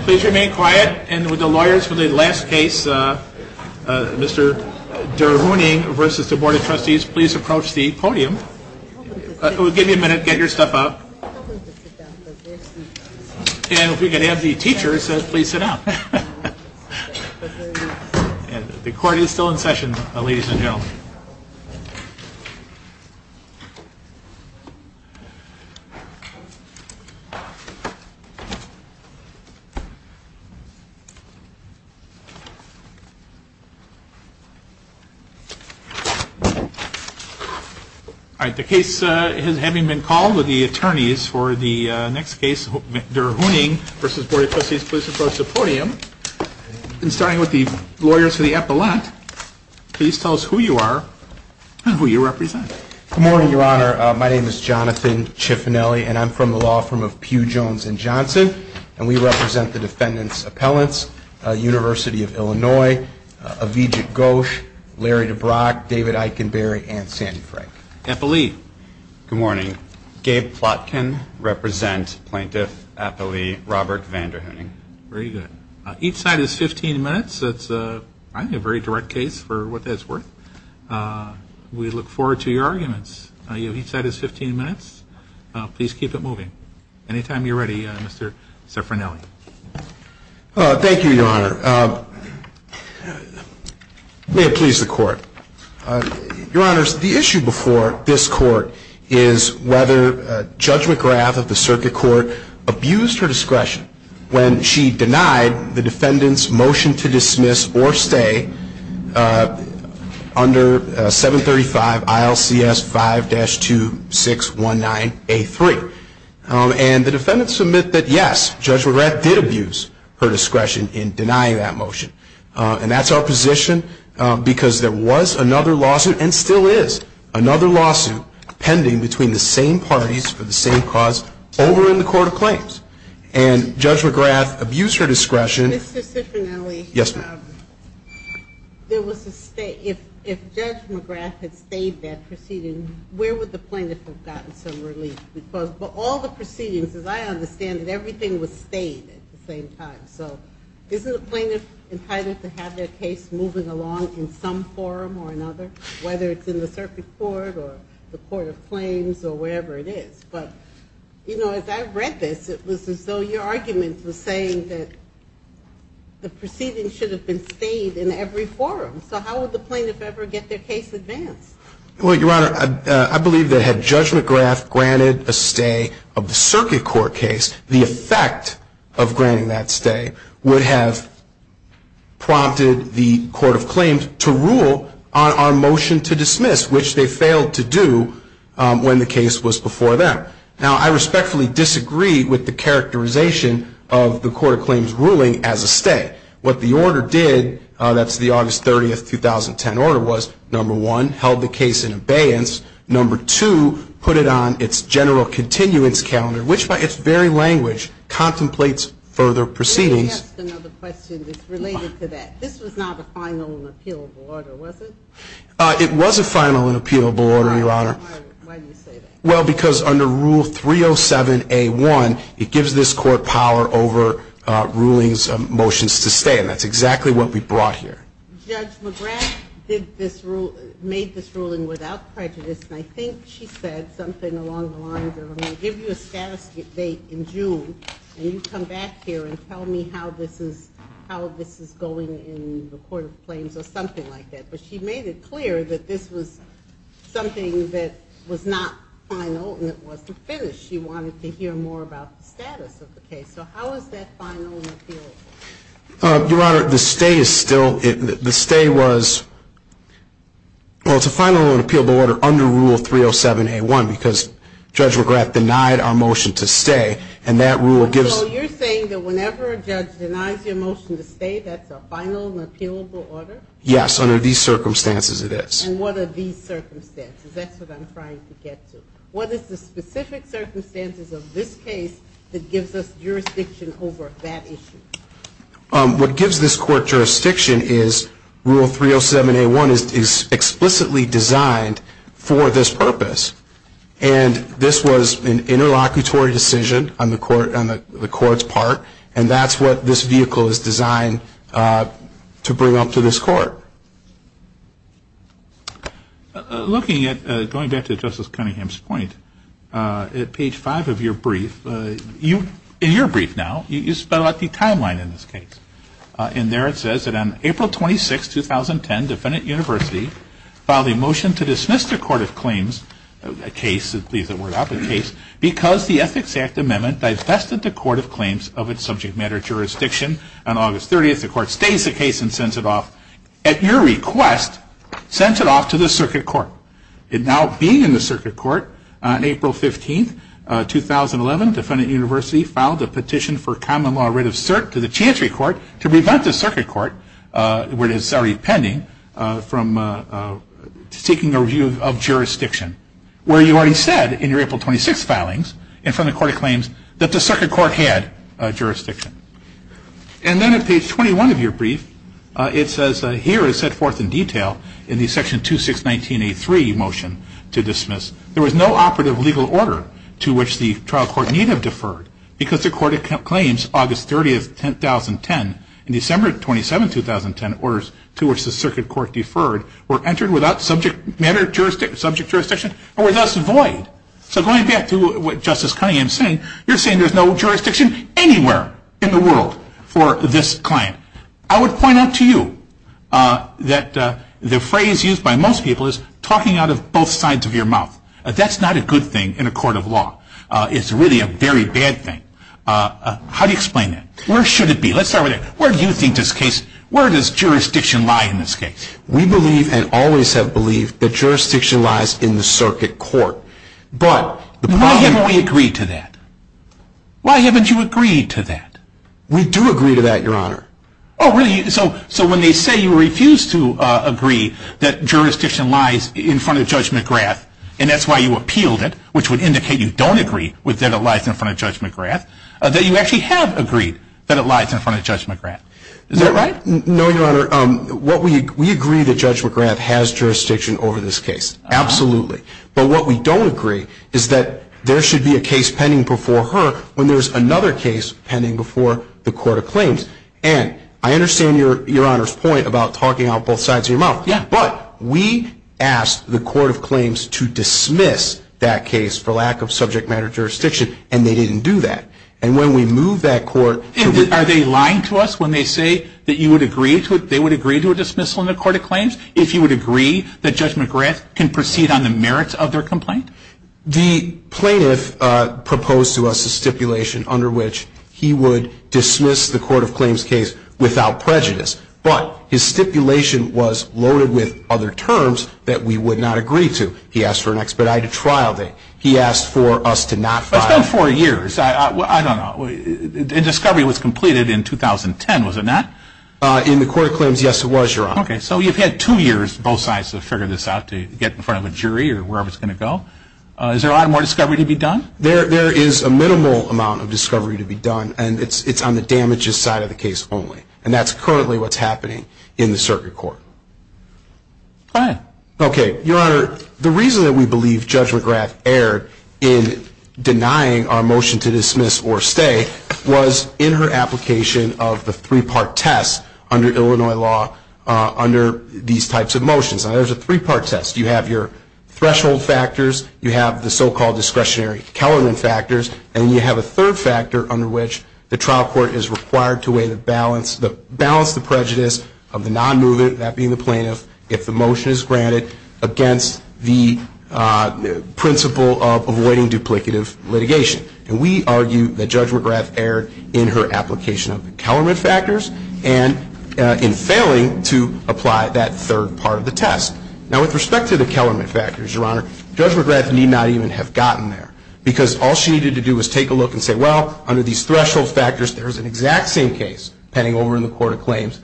Please remain quiet and would the lawyers for the last case, Mr. Der Hooning v. Board of Trustees, please approach the podium. Give me a minute, get your stuff out. And if we could have the teachers please sit down. The court is still in session, ladies and gentlemen. All right, the case having been called, the attorneys for the next case, Mr. Der Hooning v. Board of Trustees, please approach the podium. And starting with the lawyers for the appellate, please tell us who you are and who you represent. Good morning, Your Honor. My name is Jonathan Cifinelli, and I'm from the law firm of Pew, Jones & Johnson. And we represent the defendants' appellants, University of Illinois, Avijit Ghosh, Larry DeBrock, David Eikenberry, and Sandy Frank. Appellee? Good morning. Gabe Plotkin, represent Plaintiff Appellee Robert Van Der Hooning. Very good. Each side is 15 minutes. That's, I think, a very direct case for what that's worth. We look forward to your arguments. Each side is 15 minutes. Please keep it moving. Anytime you're ready, Mr. Cifinelli. Thank you, Your Honor. May it please the Court. Your Honors, the issue before this Court is whether Judge McGrath of the Circuit Court abused her discretion when she denied the defendant's motion to dismiss or stay under 735 ILCS 5-2619A3. And the defendants admit that, yes, Judge McGrath did abuse her discretion in denying that motion. And that's our position because there was another lawsuit, and still is another lawsuit, pending between the same parties for the same cause over in the Court of Claims. And Judge McGrath abused her discretion. Mr. Cifinelli. Yes, ma'am. If Judge McGrath had stayed that proceeding, where would the plaintiff have gotten some relief? Because all the proceedings, as I understand it, everything was stayed at the same time. So isn't a plaintiff entitled to have their case moving along in some forum or another, whether it's in the Circuit Court or the Court of Claims or wherever it is? But, you know, as I read this, it was as though your argument was saying that the proceedings should have been stayed in every forum. So how would the plaintiff ever get their case advanced? Well, Your Honor, I believe that had Judge McGrath granted a stay of the Circuit Court case, the effect of granting that stay would have prompted the Court of Claims to rule on our motion to dismiss, which they failed to do when the case was before them. Now, I respectfully disagree with the characterization of the Court of Claims' ruling as a stay. What the order did, that's the August 30, 2010 order, was, number one, held the case in abeyance. Number two, put it on its general continuance calendar, which by its very language contemplates further proceedings. Let me ask another question that's related to that. This was not a final and appealable order, was it? It was a final and appealable order, Your Honor. Why do you say that? Well, because under Rule 307A1, it gives this Court power over rulings, motions to stay, and that's exactly what we brought here. Judge McGrath made this ruling without prejudice, and I think she said something along the lines of, I'm going to give you a status update in June, and you come back here and tell me how this is going in the Court of Claims or something like that. But she made it clear that this was something that was not final and it wasn't finished. She wanted to hear more about the status of the case. So how is that final and appealable? Your Honor, the stay is still – the stay was – well, it's a final and appealable order under Rule 307A1, because Judge McGrath denied our motion to stay, and that rule gives – So you're saying that whenever a judge denies your motion to stay, that's a final and appealable order? Yes, under these circumstances it is. And what are these circumstances? That's what I'm trying to get to. What is the specific circumstances of this case that gives us jurisdiction over that issue? What gives this Court jurisdiction is Rule 307A1 is explicitly designed for this purpose, and this was an interlocutory decision on the Court's part, and that's what this vehicle is designed to bring up to this Court. Looking at – going back to Justice Cunningham's point, at page 5 of your brief, in your brief now, you spell out the timeline in this case. In there it says that on April 26, 2010, Defendant University filed a motion to dismiss the Court of Claims case – subject matter jurisdiction – on August 30th. The Court stays the case and sends it off. At your request, sends it off to the Circuit Court. It now being in the Circuit Court, on April 15, 2011, Defendant University filed a petition for common law writ of cert to the Chantry Court to prevent the Circuit Court, where it is already pending, from seeking a review of jurisdiction. Where you already said, in your April 26 filings, and from the Court of Claims, that the Circuit Court had jurisdiction. And then at page 21 of your brief, it says, here is set forth in detail in the section 2619A3 motion to dismiss, there was no operative legal order to which the trial court need have deferred, because the Court of Claims, August 30th, 2010, and December 27th, 2010, orders to which the Circuit Court deferred, were entered without subject matter jurisdiction, or were thus void. So going back to what Justice Cunningham is saying, you are saying there is no jurisdiction anywhere in the world for this client. I would point out to you, that the phrase used by most people is, talking out of both sides of your mouth. That is not a good thing in a court of law. It is really a very bad thing. How do you explain that? Where should it be? Let's start with that. Where do you think this case, where does jurisdiction lie in this case? We believe, and always have believed, that jurisdiction lies in the Circuit Court. Why haven't we agreed to that? Why haven't you agreed to that? We do agree to that, Your Honor. Oh, really? So when they say you refuse to agree that jurisdiction lies in front of Judge McGrath, and that's why you appealed it, which would indicate you don't agree that it lies in front of Judge McGrath, that you actually have agreed that it lies in front of Judge McGrath. Is that right? No, Your Honor. We agree that Judge McGrath has jurisdiction over this case. Absolutely. But what we don't agree is that there should be a case pending before her when there's another case pending before the Court of Claims. And I understand Your Honor's point about talking out both sides of your mouth. Yeah. But we asked the Court of Claims to dismiss that case for lack of subject matter jurisdiction, and they didn't do that. And when we move that court to the other side. Are they lying to us when they say that you would agree to it, they would agree to a dismissal in the Court of Claims, if you would agree that Judge McGrath can proceed on the merits of their complaint? The plaintiff proposed to us a stipulation under which he would dismiss the Court of Claims case without prejudice. But his stipulation was loaded with other terms that we would not agree to. He asked for an expedited trial date. He asked for us to not file. It's been four years. I don't know. The discovery was completed in 2010, was it not? In the Court of Claims, yes, it was, Your Honor. Okay. So you've had two years, both sides, to figure this out, to get in front of a jury or wherever it's going to go. Is there a lot more discovery to be done? There is a minimal amount of discovery to be done, and it's on the damages side of the case only. And that's currently what's happening in the circuit court. Go ahead. Okay. Your Honor, the reason that we believe Judge McGrath erred in denying our motion to dismiss or stay was in her application of the three-part test under Illinois law under these types of motions. Now, there's a three-part test. You have your threshold factors. You have the so-called discretionary Kellerman factors. And you have a third factor under which the trial court is required to balance the prejudice of the non-mover, that being the plaintiff, if the motion is granted, against the principle of avoiding duplicative litigation. And we argue that Judge McGrath erred in her application of the Kellerman factors and in failing to apply that third part of the test. Now, with respect to the Kellerman factors, Your Honor, Judge McGrath need not even have gotten there because all she needed to do was take a look and say, well, under these threshold factors, there's an exact same case pending over in the court of claims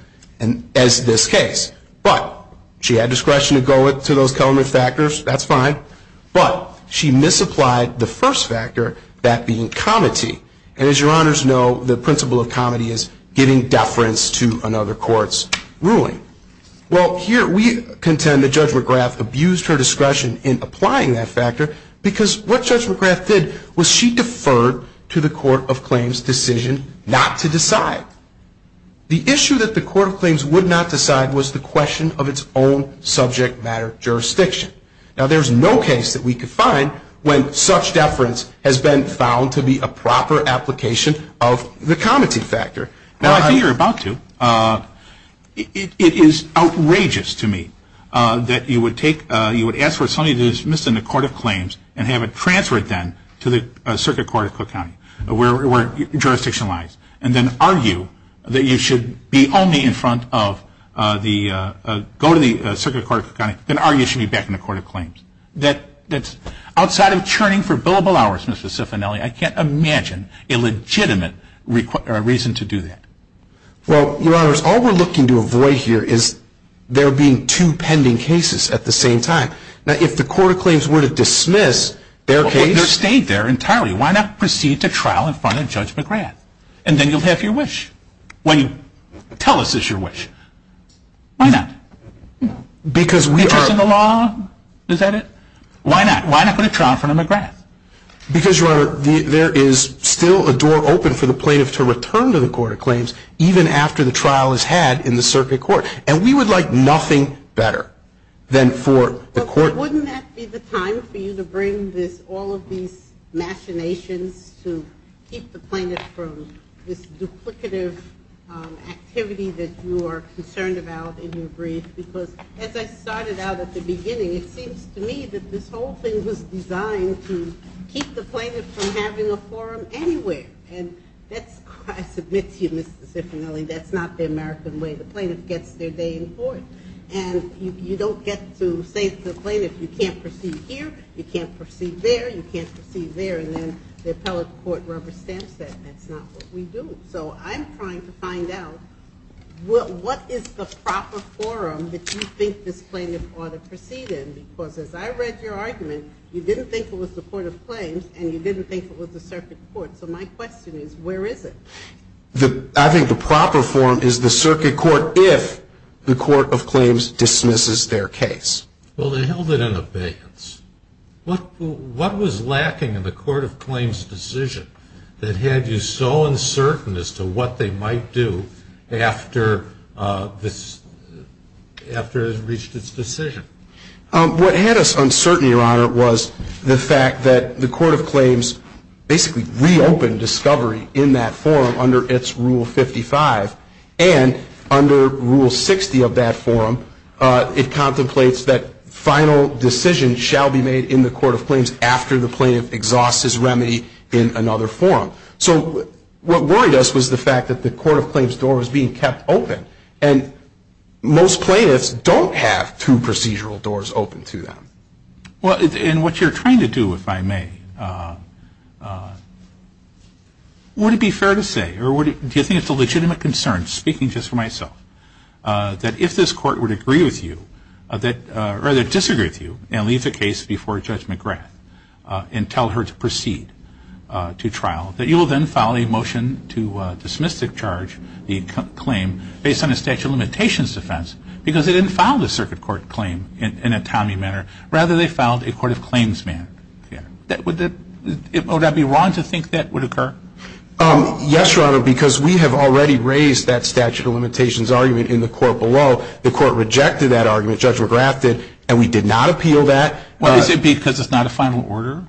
as this case. But she had discretion to go to those Kellerman factors. That's fine. But she misapplied the first factor, that being comity. And as Your Honors know, the principle of comity is giving deference to another court's ruling. Well, here we contend that Judge McGrath abused her discretion in applying that factor because what Judge McGrath did was she deferred to the court of claims' decision not to decide. The issue that the court of claims would not decide was the question of its own subject matter jurisdiction. Now, there's no case that we could find when such deference has been found to be a proper application of the comity factor. Well, I think you're about to. It is outrageous to me that you would ask for something that is missed in the court of claims and have it transferred then to the Circuit Court of Cook County where jurisdiction lies and then argue that you should be back in the court of claims. Outside of churning for billable hours, Mr. Cifanelli, I can't imagine a legitimate reason to do that. Well, Your Honors, all we're looking to avoid here is there being two pending cases at the same time. Now, if the court of claims were to dismiss their case and it stayed there entirely, why not proceed to trial in front of Judge McGrath? And then you'll have your wish. Tell us it's your wish. Why not? Interest in the law? Is that it? Why not? Why not put a trial in front of McGrath? Because, Your Honor, there is still a door open for the plaintiff to return to the court of claims even after the trial is had in the circuit court, and we would like nothing better than for the court So wouldn't that be the time for you to bring all of these machinations to keep the plaintiff from this duplicative activity that you are concerned about in your brief? Because as I started out at the beginning, it seems to me that this whole thing was designed to keep the plaintiff from having a forum anywhere. And I submit to you, Mr. Cifanelli, that's not the American way. The plaintiff gets their day in court. And you don't get to say to the plaintiff, you can't proceed here, you can't proceed there, you can't proceed there, and then the appellate court rubber stamps that. That's not what we do. So I'm trying to find out what is the proper forum that you think this plaintiff ought to proceed in? Because as I read your argument, you didn't think it was the court of claims, and you didn't think it was the circuit court. So my question is, where is it? I think the proper forum is the circuit court if the court of claims dismisses their case. Well, they held it in abeyance. What was lacking in the court of claims' decision that had you so uncertain as to what they might do after it had reached its decision? What had us uncertain, Your Honor, was the fact that the court of claims basically reopened discovery in that forum under its Rule 55. And under Rule 60 of that forum, it contemplates that final decisions shall be made in the court of claims after the plaintiff exhausts his remedy in another forum. So what worried us was the fact that the court of claims' door was being kept open. And most plaintiffs don't have two procedural doors open to them. And what you're trying to do, if I may, would it be fair to say, or do you think it's a legitimate concern, speaking just for myself, that if this court would agree with you, or rather disagree with you, and leave the case before Judge McGrath and tell her to proceed to trial, that you will then file a motion to dismiss the charge, the claim, based on a statute of limitations defense because they didn't file the circuit court claim in a Tommy manner. Rather, they filed a court of claims manner. Would I be wrong to think that would occur? Yes, Your Honor, because we have already raised that statute of limitations argument in the court below. The court rejected that argument. Judge McGrath did. And we did not appeal that. Is it because it's not a final order?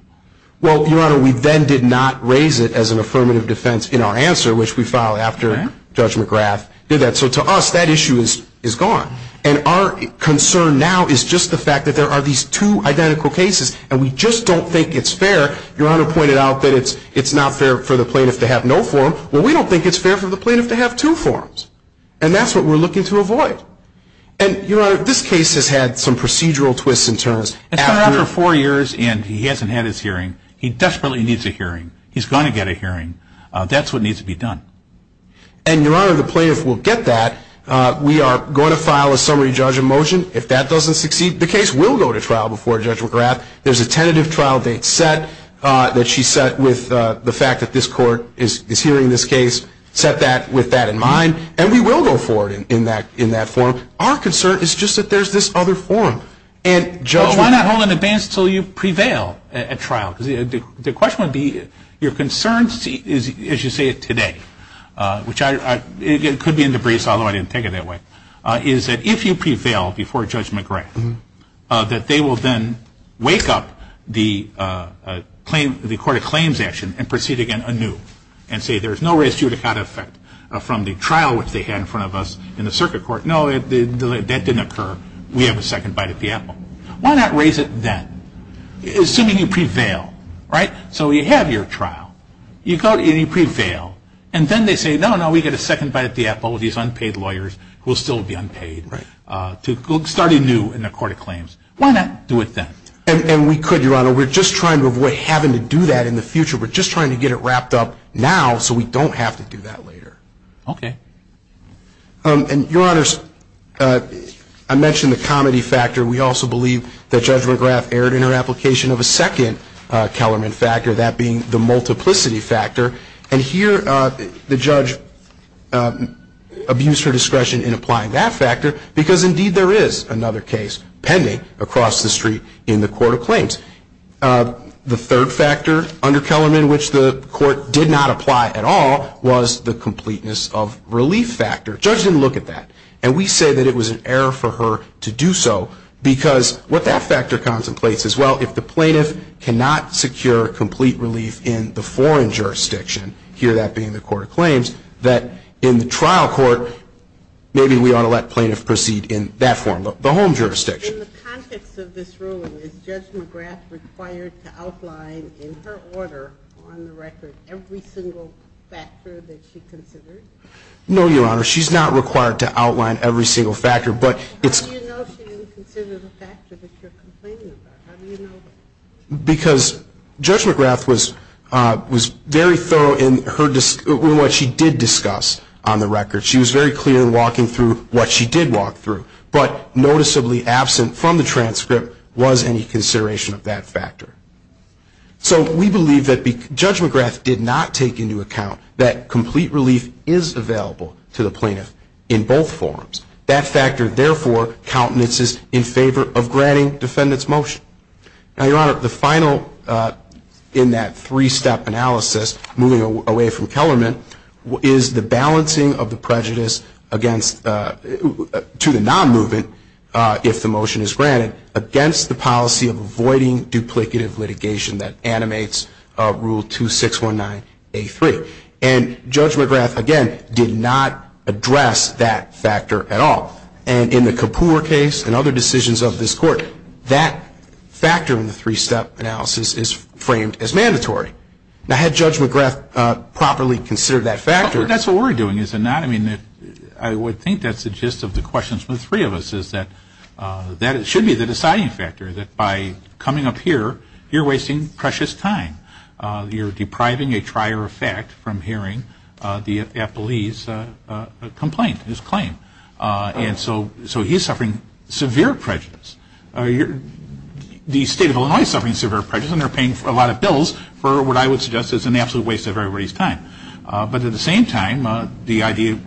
Well, Your Honor, we then did not raise it as an affirmative defense in our answer, which we filed after Judge McGrath did that. And so to us, that issue is gone. And our concern now is just the fact that there are these two identical cases, and we just don't think it's fair. Your Honor pointed out that it's not fair for the plaintiff to have no form. Well, we don't think it's fair for the plaintiff to have two forms. And that's what we're looking to avoid. And, Your Honor, this case has had some procedural twists and turns. It's been out for four years, and he hasn't had his hearing. He desperately needs a hearing. He's going to get a hearing. That's what needs to be done. And, Your Honor, the plaintiff will get that. We are going to file a summary judge of motion. If that doesn't succeed, the case will go to trial before Judge McGrath. There's a tentative trial date set that she set with the fact that this court is hearing this case, set that with that in mind, and we will go forward in that form. Our concern is just that there's this other form. Well, why not hold it in advance until you prevail at trial? Because the question would be, your concern is, as you say it today, which could be in debris, although I didn't take it that way, is that if you prevail before Judge McGrath, that they will then wake up the court of claims action and proceed again anew and say there's no res judicata effect from the trial which they had in front of us in the circuit court. No, that didn't occur. We have a second bite at the apple. Why not raise it then? Assuming you prevail, right? So you have your trial. You go and you prevail. And then they say, no, no, we get a second bite at the apple with these unpaid lawyers who will still be unpaid to start anew in the court of claims. Why not do it then? And we could, Your Honor. We're just trying to avoid having to do that in the future. We're just trying to get it wrapped up now so we don't have to do that later. Okay. And, Your Honors, I mentioned the comedy factor. We also believe that Judge McGrath erred in her application of a second Kellerman factor, that being the multiplicity factor. And here the judge abused her discretion in applying that factor because, indeed, there is another case pending across the street in the court of claims. The third factor under Kellerman which the court did not apply at all was the completeness of relief factor. Judge didn't look at that. And we say that it was an error for her to do so because what that factor contemplates is, well, if the plaintiff cannot secure complete relief in the foreign jurisdiction, here that being the court of claims, that in the trial court, maybe we ought to let plaintiff proceed in that form, the home jurisdiction. In the context of this ruling, is Judge McGrath required to outline in her order on the record every single factor that she considered? No, Your Honor. She's not required to outline every single factor. How do you know she didn't consider the factor that you're complaining about? How do you know that? Because Judge McGrath was very thorough in what she did discuss on the record. She was very clear in walking through what she did walk through. But noticeably absent from the transcript was any consideration of that factor. So we believe that Judge McGrath did not take into account that complete relief is available to the plaintiff in both forms. That factor, therefore, countenances in favor of granting defendant's motion. Now, Your Honor, the final in that three-step analysis, moving away from Kellerman, is the balancing of the prejudice to the non-movement, if the motion is granted, against the policy of avoiding duplicative litigation that animates Rule 2619A3. And Judge McGrath, again, did not address that factor at all. And in the Kapoor case and other decisions of this Court, that factor in the three-step analysis is framed as mandatory. Now, had Judge McGrath properly considered that factor? That's what we're doing, isn't it? I mean, I would think that's the gist of the questions from the three of us, is that that should be the deciding factor, that by coming up here, you're wasting precious time. You're depriving a trier of fact from hearing the appellee's complaint, his claim. And so he's suffering severe prejudice. The State of Illinois is suffering severe prejudice, and they're paying a lot of bills for what I would suggest is an absolute waste of everybody's time. But at the same time, the idea,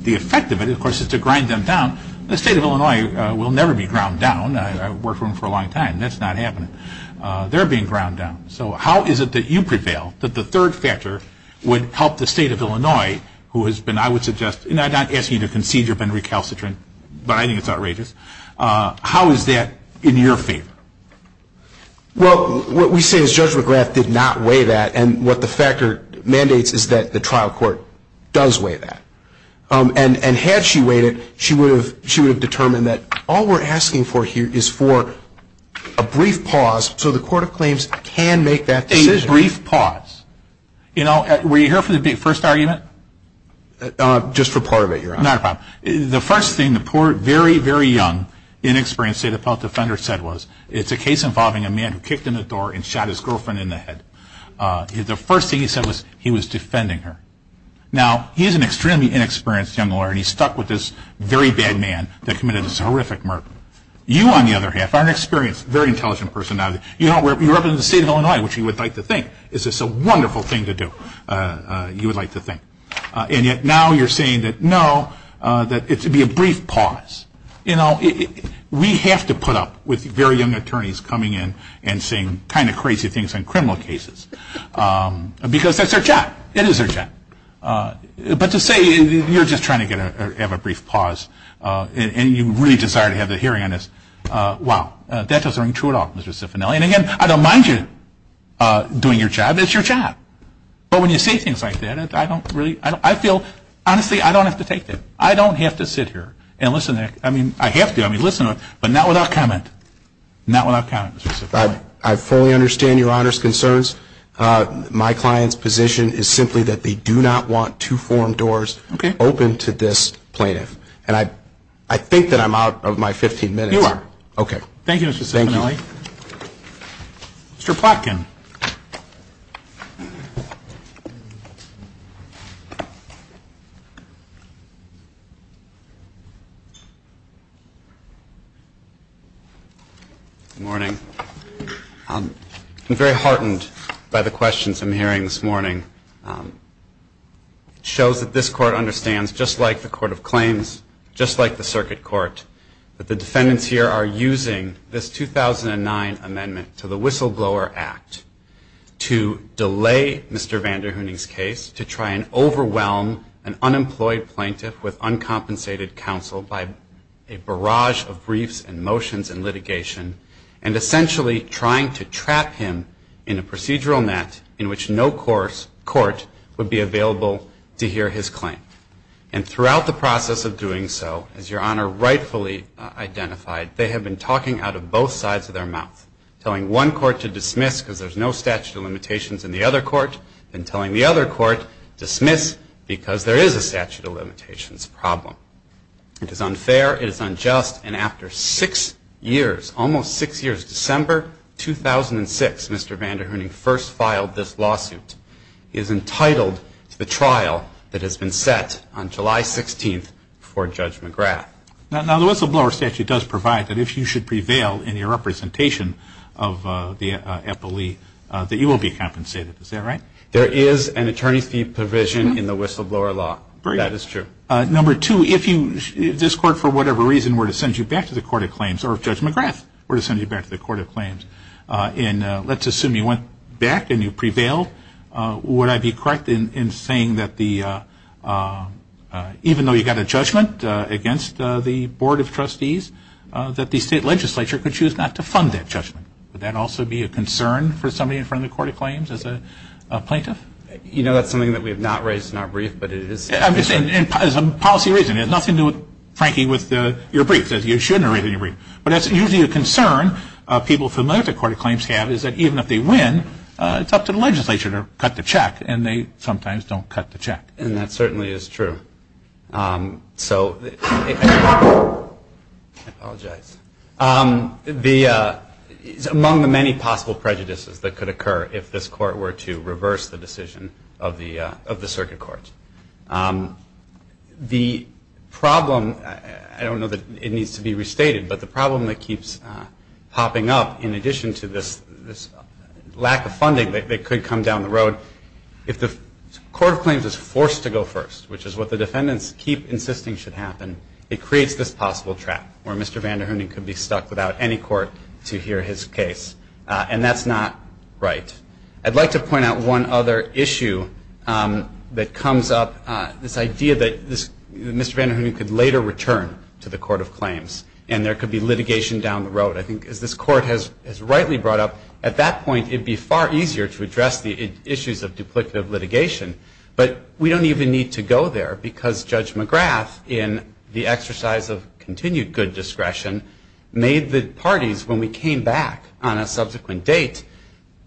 the effect of it, of course, is to grind them down. The State of Illinois will never be ground down. I've worked for them for a long time. That's not happening. They're being ground down. So how is it that you prevail that the third factor would help the State of Illinois, who has been, I would suggest, and I'm not asking you to concede you've been recalcitrant, but I think it's outrageous. How is that in your favor? Well, what we say is Judge McGrath did not weigh that, and what the factor mandates is that the trial court does weigh that. And had she weighed it, she would have determined that all we're asking for here is for a brief pause so the court of claims can make that decision. A brief pause. You know, were you here for the first argument? Just for part of it, Your Honor. Not a problem. The first thing the poor, very, very young, inexperienced State of Illinois defender said was, it's a case involving a man who kicked in the door and shot his girlfriend in the head. The first thing he said was he was defending her. Now, he's an extremely inexperienced young lawyer, and he's stuck with this very bad man that committed this horrific murder. You, on the other hand, are an experienced, very intelligent person. You represent the State of Illinois, which you would like to think is just a wonderful thing to do, you would like to think. And yet now you're saying that, no, that it should be a brief pause. You know, we have to put up with very young attorneys coming in and saying kind of crazy things on criminal cases because that's their job. It is their job. But to say you're just trying to have a brief pause and you really desire to have a hearing on this, wow, that doesn't ring true at all, Mr. Cifanelli. And, again, I don't mind you doing your job. It's your job. But when you say things like that, I don't really, I feel, honestly, I don't have to take that. I don't have to sit here and listen. I mean, I have to, I mean, listen, but not without comment. Not without comment, Mr. Cifanelli. I fully understand Your Honor's concerns. My client's position is simply that they do not want to form doors open to this plaintiff. And I think that I'm out of my 15 minutes. You are. Okay. Thank you, Mr. Cifanelli. Thank you. Mr. Plotkin. Good morning. I'm very heartened by the questions I'm hearing this morning. It shows that this Court understands, just like the Court of Claims, just like the Circuit Court, that the defendants here are using this 2009 amendment to the Whistleblower Act to delay Mr. Vanderhoening's case, to try and overwhelm an unemployed plaintiff with uncompensated counsel by a barrage of briefs and motions and litigation, and essentially trying to trap him in a procedural net in which no court would be available to hear his claim. And throughout the process of doing so, as Your Honor rightfully identified, they have been talking out of both sides of their mouth, telling one court to dismiss because there's no statute of limitations in the other court, and telling the other court, dismiss because there is a statute of limitations problem. It is unfair. It is unjust. And after six years, almost six years, December 2006, Mr. Vanderhoening first filed this lawsuit. He is entitled to the trial that has been set on July 16th for Judge McGrath. Now, the whistleblower statute does provide that if you should prevail in your representation of the epilee, that you will be compensated. Is that right? There is an attorney fee provision in the whistleblower law. That is true. Number two, if this Court, for whatever reason, were to send you back to the Court of Claims, or if Judge McGrath were to send you back to the Court of Claims, and let's assume you went back and you prevailed, would I be correct in saying that even though you got a judgment against the Board of Trustees, that the state legislature could choose not to fund that judgment? Would that also be a concern for somebody in front of the Court of Claims as a plaintiff? You know, that's something that we have not raised in our brief, but it is. I'm just saying as a policy reason. It has nothing to do, frankly, with your brief. You shouldn't raise it in your brief. But that's usually a concern people familiar with the Court of Claims have, is that even if they win, it's up to the legislature to cut the check, and they sometimes don't cut the check. And that certainly is true. I apologize. It's among the many possible prejudices that could occur if this Court were to reverse the decision of the Circuit Courts. The problem, I don't know that it needs to be restated, but the problem that keeps popping up in addition to this lack of funding that could come down the road, if the Court of Claims is forced to go first, which is what the defendants keep insisting should happen, it creates this possible trap where Mr. Vanderhoening could be stuck without any court to hear his case. And that's not right. I'd like to point out one other issue that comes up, this idea that Mr. Vanderhoening could later return to the Court of Claims, and there could be litigation down the road. I think as this Court has rightly brought up, at that point it would be far easier to address the issues of duplicative litigation. But we don't even need to go there, because Judge McGrath, in the exercise of continued good discretion, made the parties, when we came back on a subsequent date,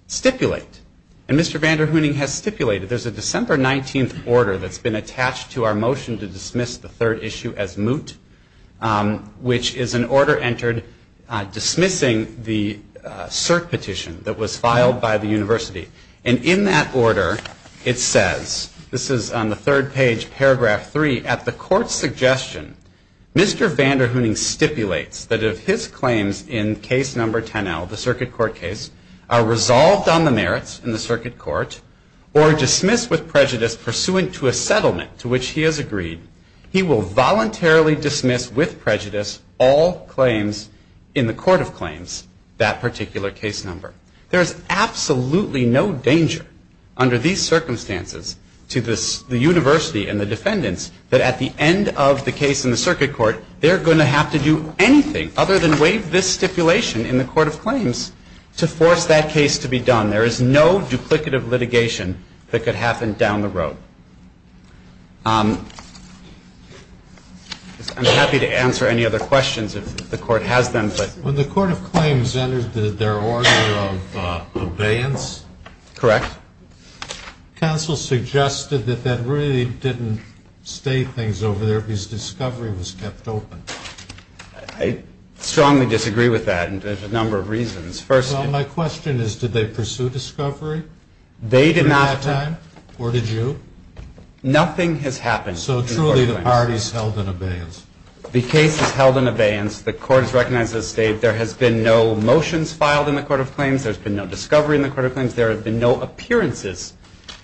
stipulate. And Mr. Vanderhoening has stipulated. There's a December 19th order that's been attached to our motion to dismiss the third issue as moot, which is an order entered dismissing the cert petition that was filed by the university. And in that order, it says, this is on the third page, paragraph 3, Mr. Vanderhoening stipulates that if his claims in case number 10L, the circuit court case, are resolved on the merits in the circuit court, or dismissed with prejudice pursuant to a settlement to which he has agreed, he will voluntarily dismiss with prejudice all claims in the Court of Claims, that particular case number. There is absolutely no danger under these circumstances to the university and the defendants that at the end of the case in the circuit court, they're going to have to do anything other than waive this stipulation in the Court of Claims to force that case to be done. There is no duplicative litigation that could happen down the road. I'm happy to answer any other questions if the Court has them. When the Court of Claims entered their order of abeyance. Correct. Counsel suggested that that really didn't state things over there, because discovery was kept open. I strongly disagree with that, and there's a number of reasons. Well, my question is, did they pursue discovery? They did not. Or did you? Nothing has happened. So truly, the party's held in abeyance. The case is held in abeyance. The Court has recognized as stated there has been no motions filed in the Court of Claims. There's been no discovery in the Court of Claims. There have been no appearances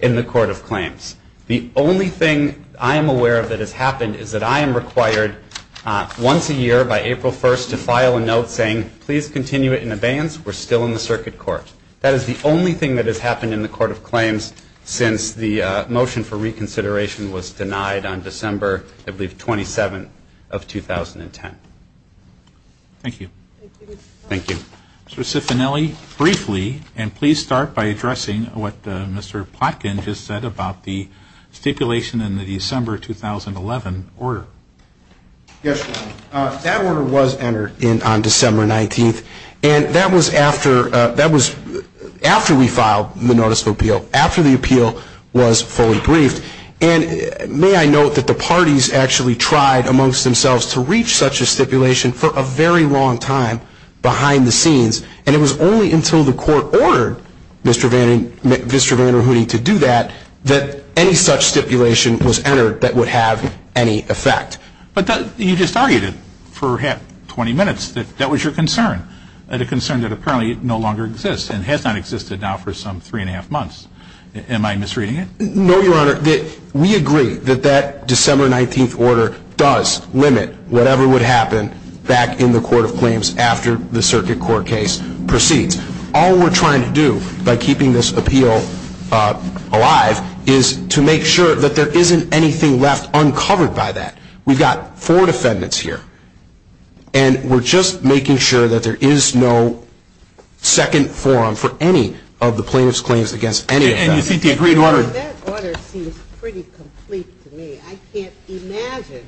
in the Court of Claims. The only thing I am aware of that has happened is that I am required once a year, by April 1st, to file a note saying, please continue it in abeyance. We're still in the circuit court. That is the only thing that has happened in the Court of Claims since the motion for reconsideration was denied on December, I believe, 27th of 2010. Thank you. Thank you. Mr. Cifanelli, briefly, and please start by addressing what Mr. Plotkin just said about the stipulation in the December 2011 order. Yes, Your Honor. That order was entered on December 19th, and that was after we filed the notice of appeal, after the appeal was fully briefed. And may I note that the parties actually tried amongst themselves to reach such a stipulation for a very long time behind the scenes, and it was only until the Court ordered Mr. Vanderhoody to do that that any such stipulation was entered that would have any effect. But you just argued it for 20 minutes that that was your concern, a concern that apparently no longer exists and has not existed now for some three and a half months. Am I misreading it? No, Your Honor. We agree that that December 19th order does limit whatever would happen back in the Court of Claims after the circuit court case proceeds. All we're trying to do by keeping this appeal alive is to make sure that there isn't anything left uncovered by that. We've got four defendants here, and we're just making sure that there is no second forum for any of the plaintiff's claims against any of them. That order seems pretty complete to me. I can't imagine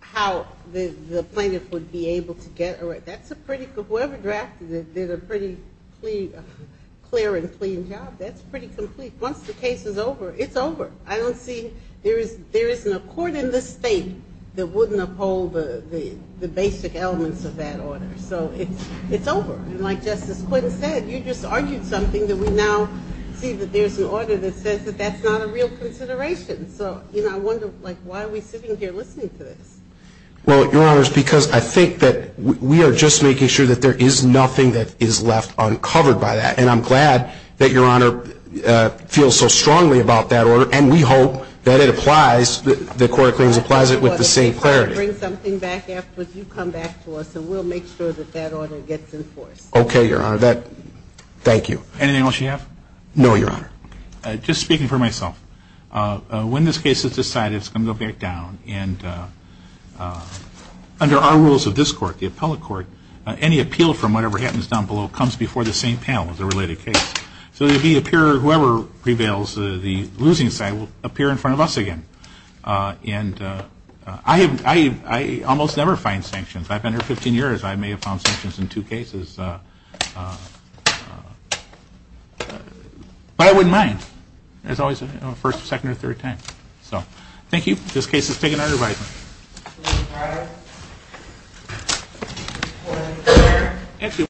how the plaintiff would be able to get a right. Whoever drafted it did a pretty clear and clean job. That's pretty complete. Once the case is over, it's over. There isn't a court in this state that wouldn't uphold the basic elements of that order. So it's over. Like Justice Quinn said, you just argued something that we now see that there's an order that says that that's not a real consideration. So, you know, I wonder, like, why are we sitting here listening to this? Well, Your Honor, it's because I think that we are just making sure that there is nothing that is left uncovered by that. And I'm glad that Your Honor feels so strongly about that order, and we hope that it applies, that the Court of Claims applies it with the same clarity. I'm going to bring something back afterwards. You come back to us, and we'll make sure that that order gets enforced. Okay, Your Honor. Thank you. Anything else you have? No, Your Honor. Just speaking for myself, when this case is decided, it's going to go back down. And under our rules of this court, the appellate court, any appeal from whatever happens down below comes before the same panel as a related case. So whoever prevails, the losing side, will appear in front of us again. And I almost never find sanctions. I've been here 15 years. I may have found sanctions in two cases. But I wouldn't mind. There's always a first, second, or third time. So, thank you. This case is taken under review. Thank you, Your Honor.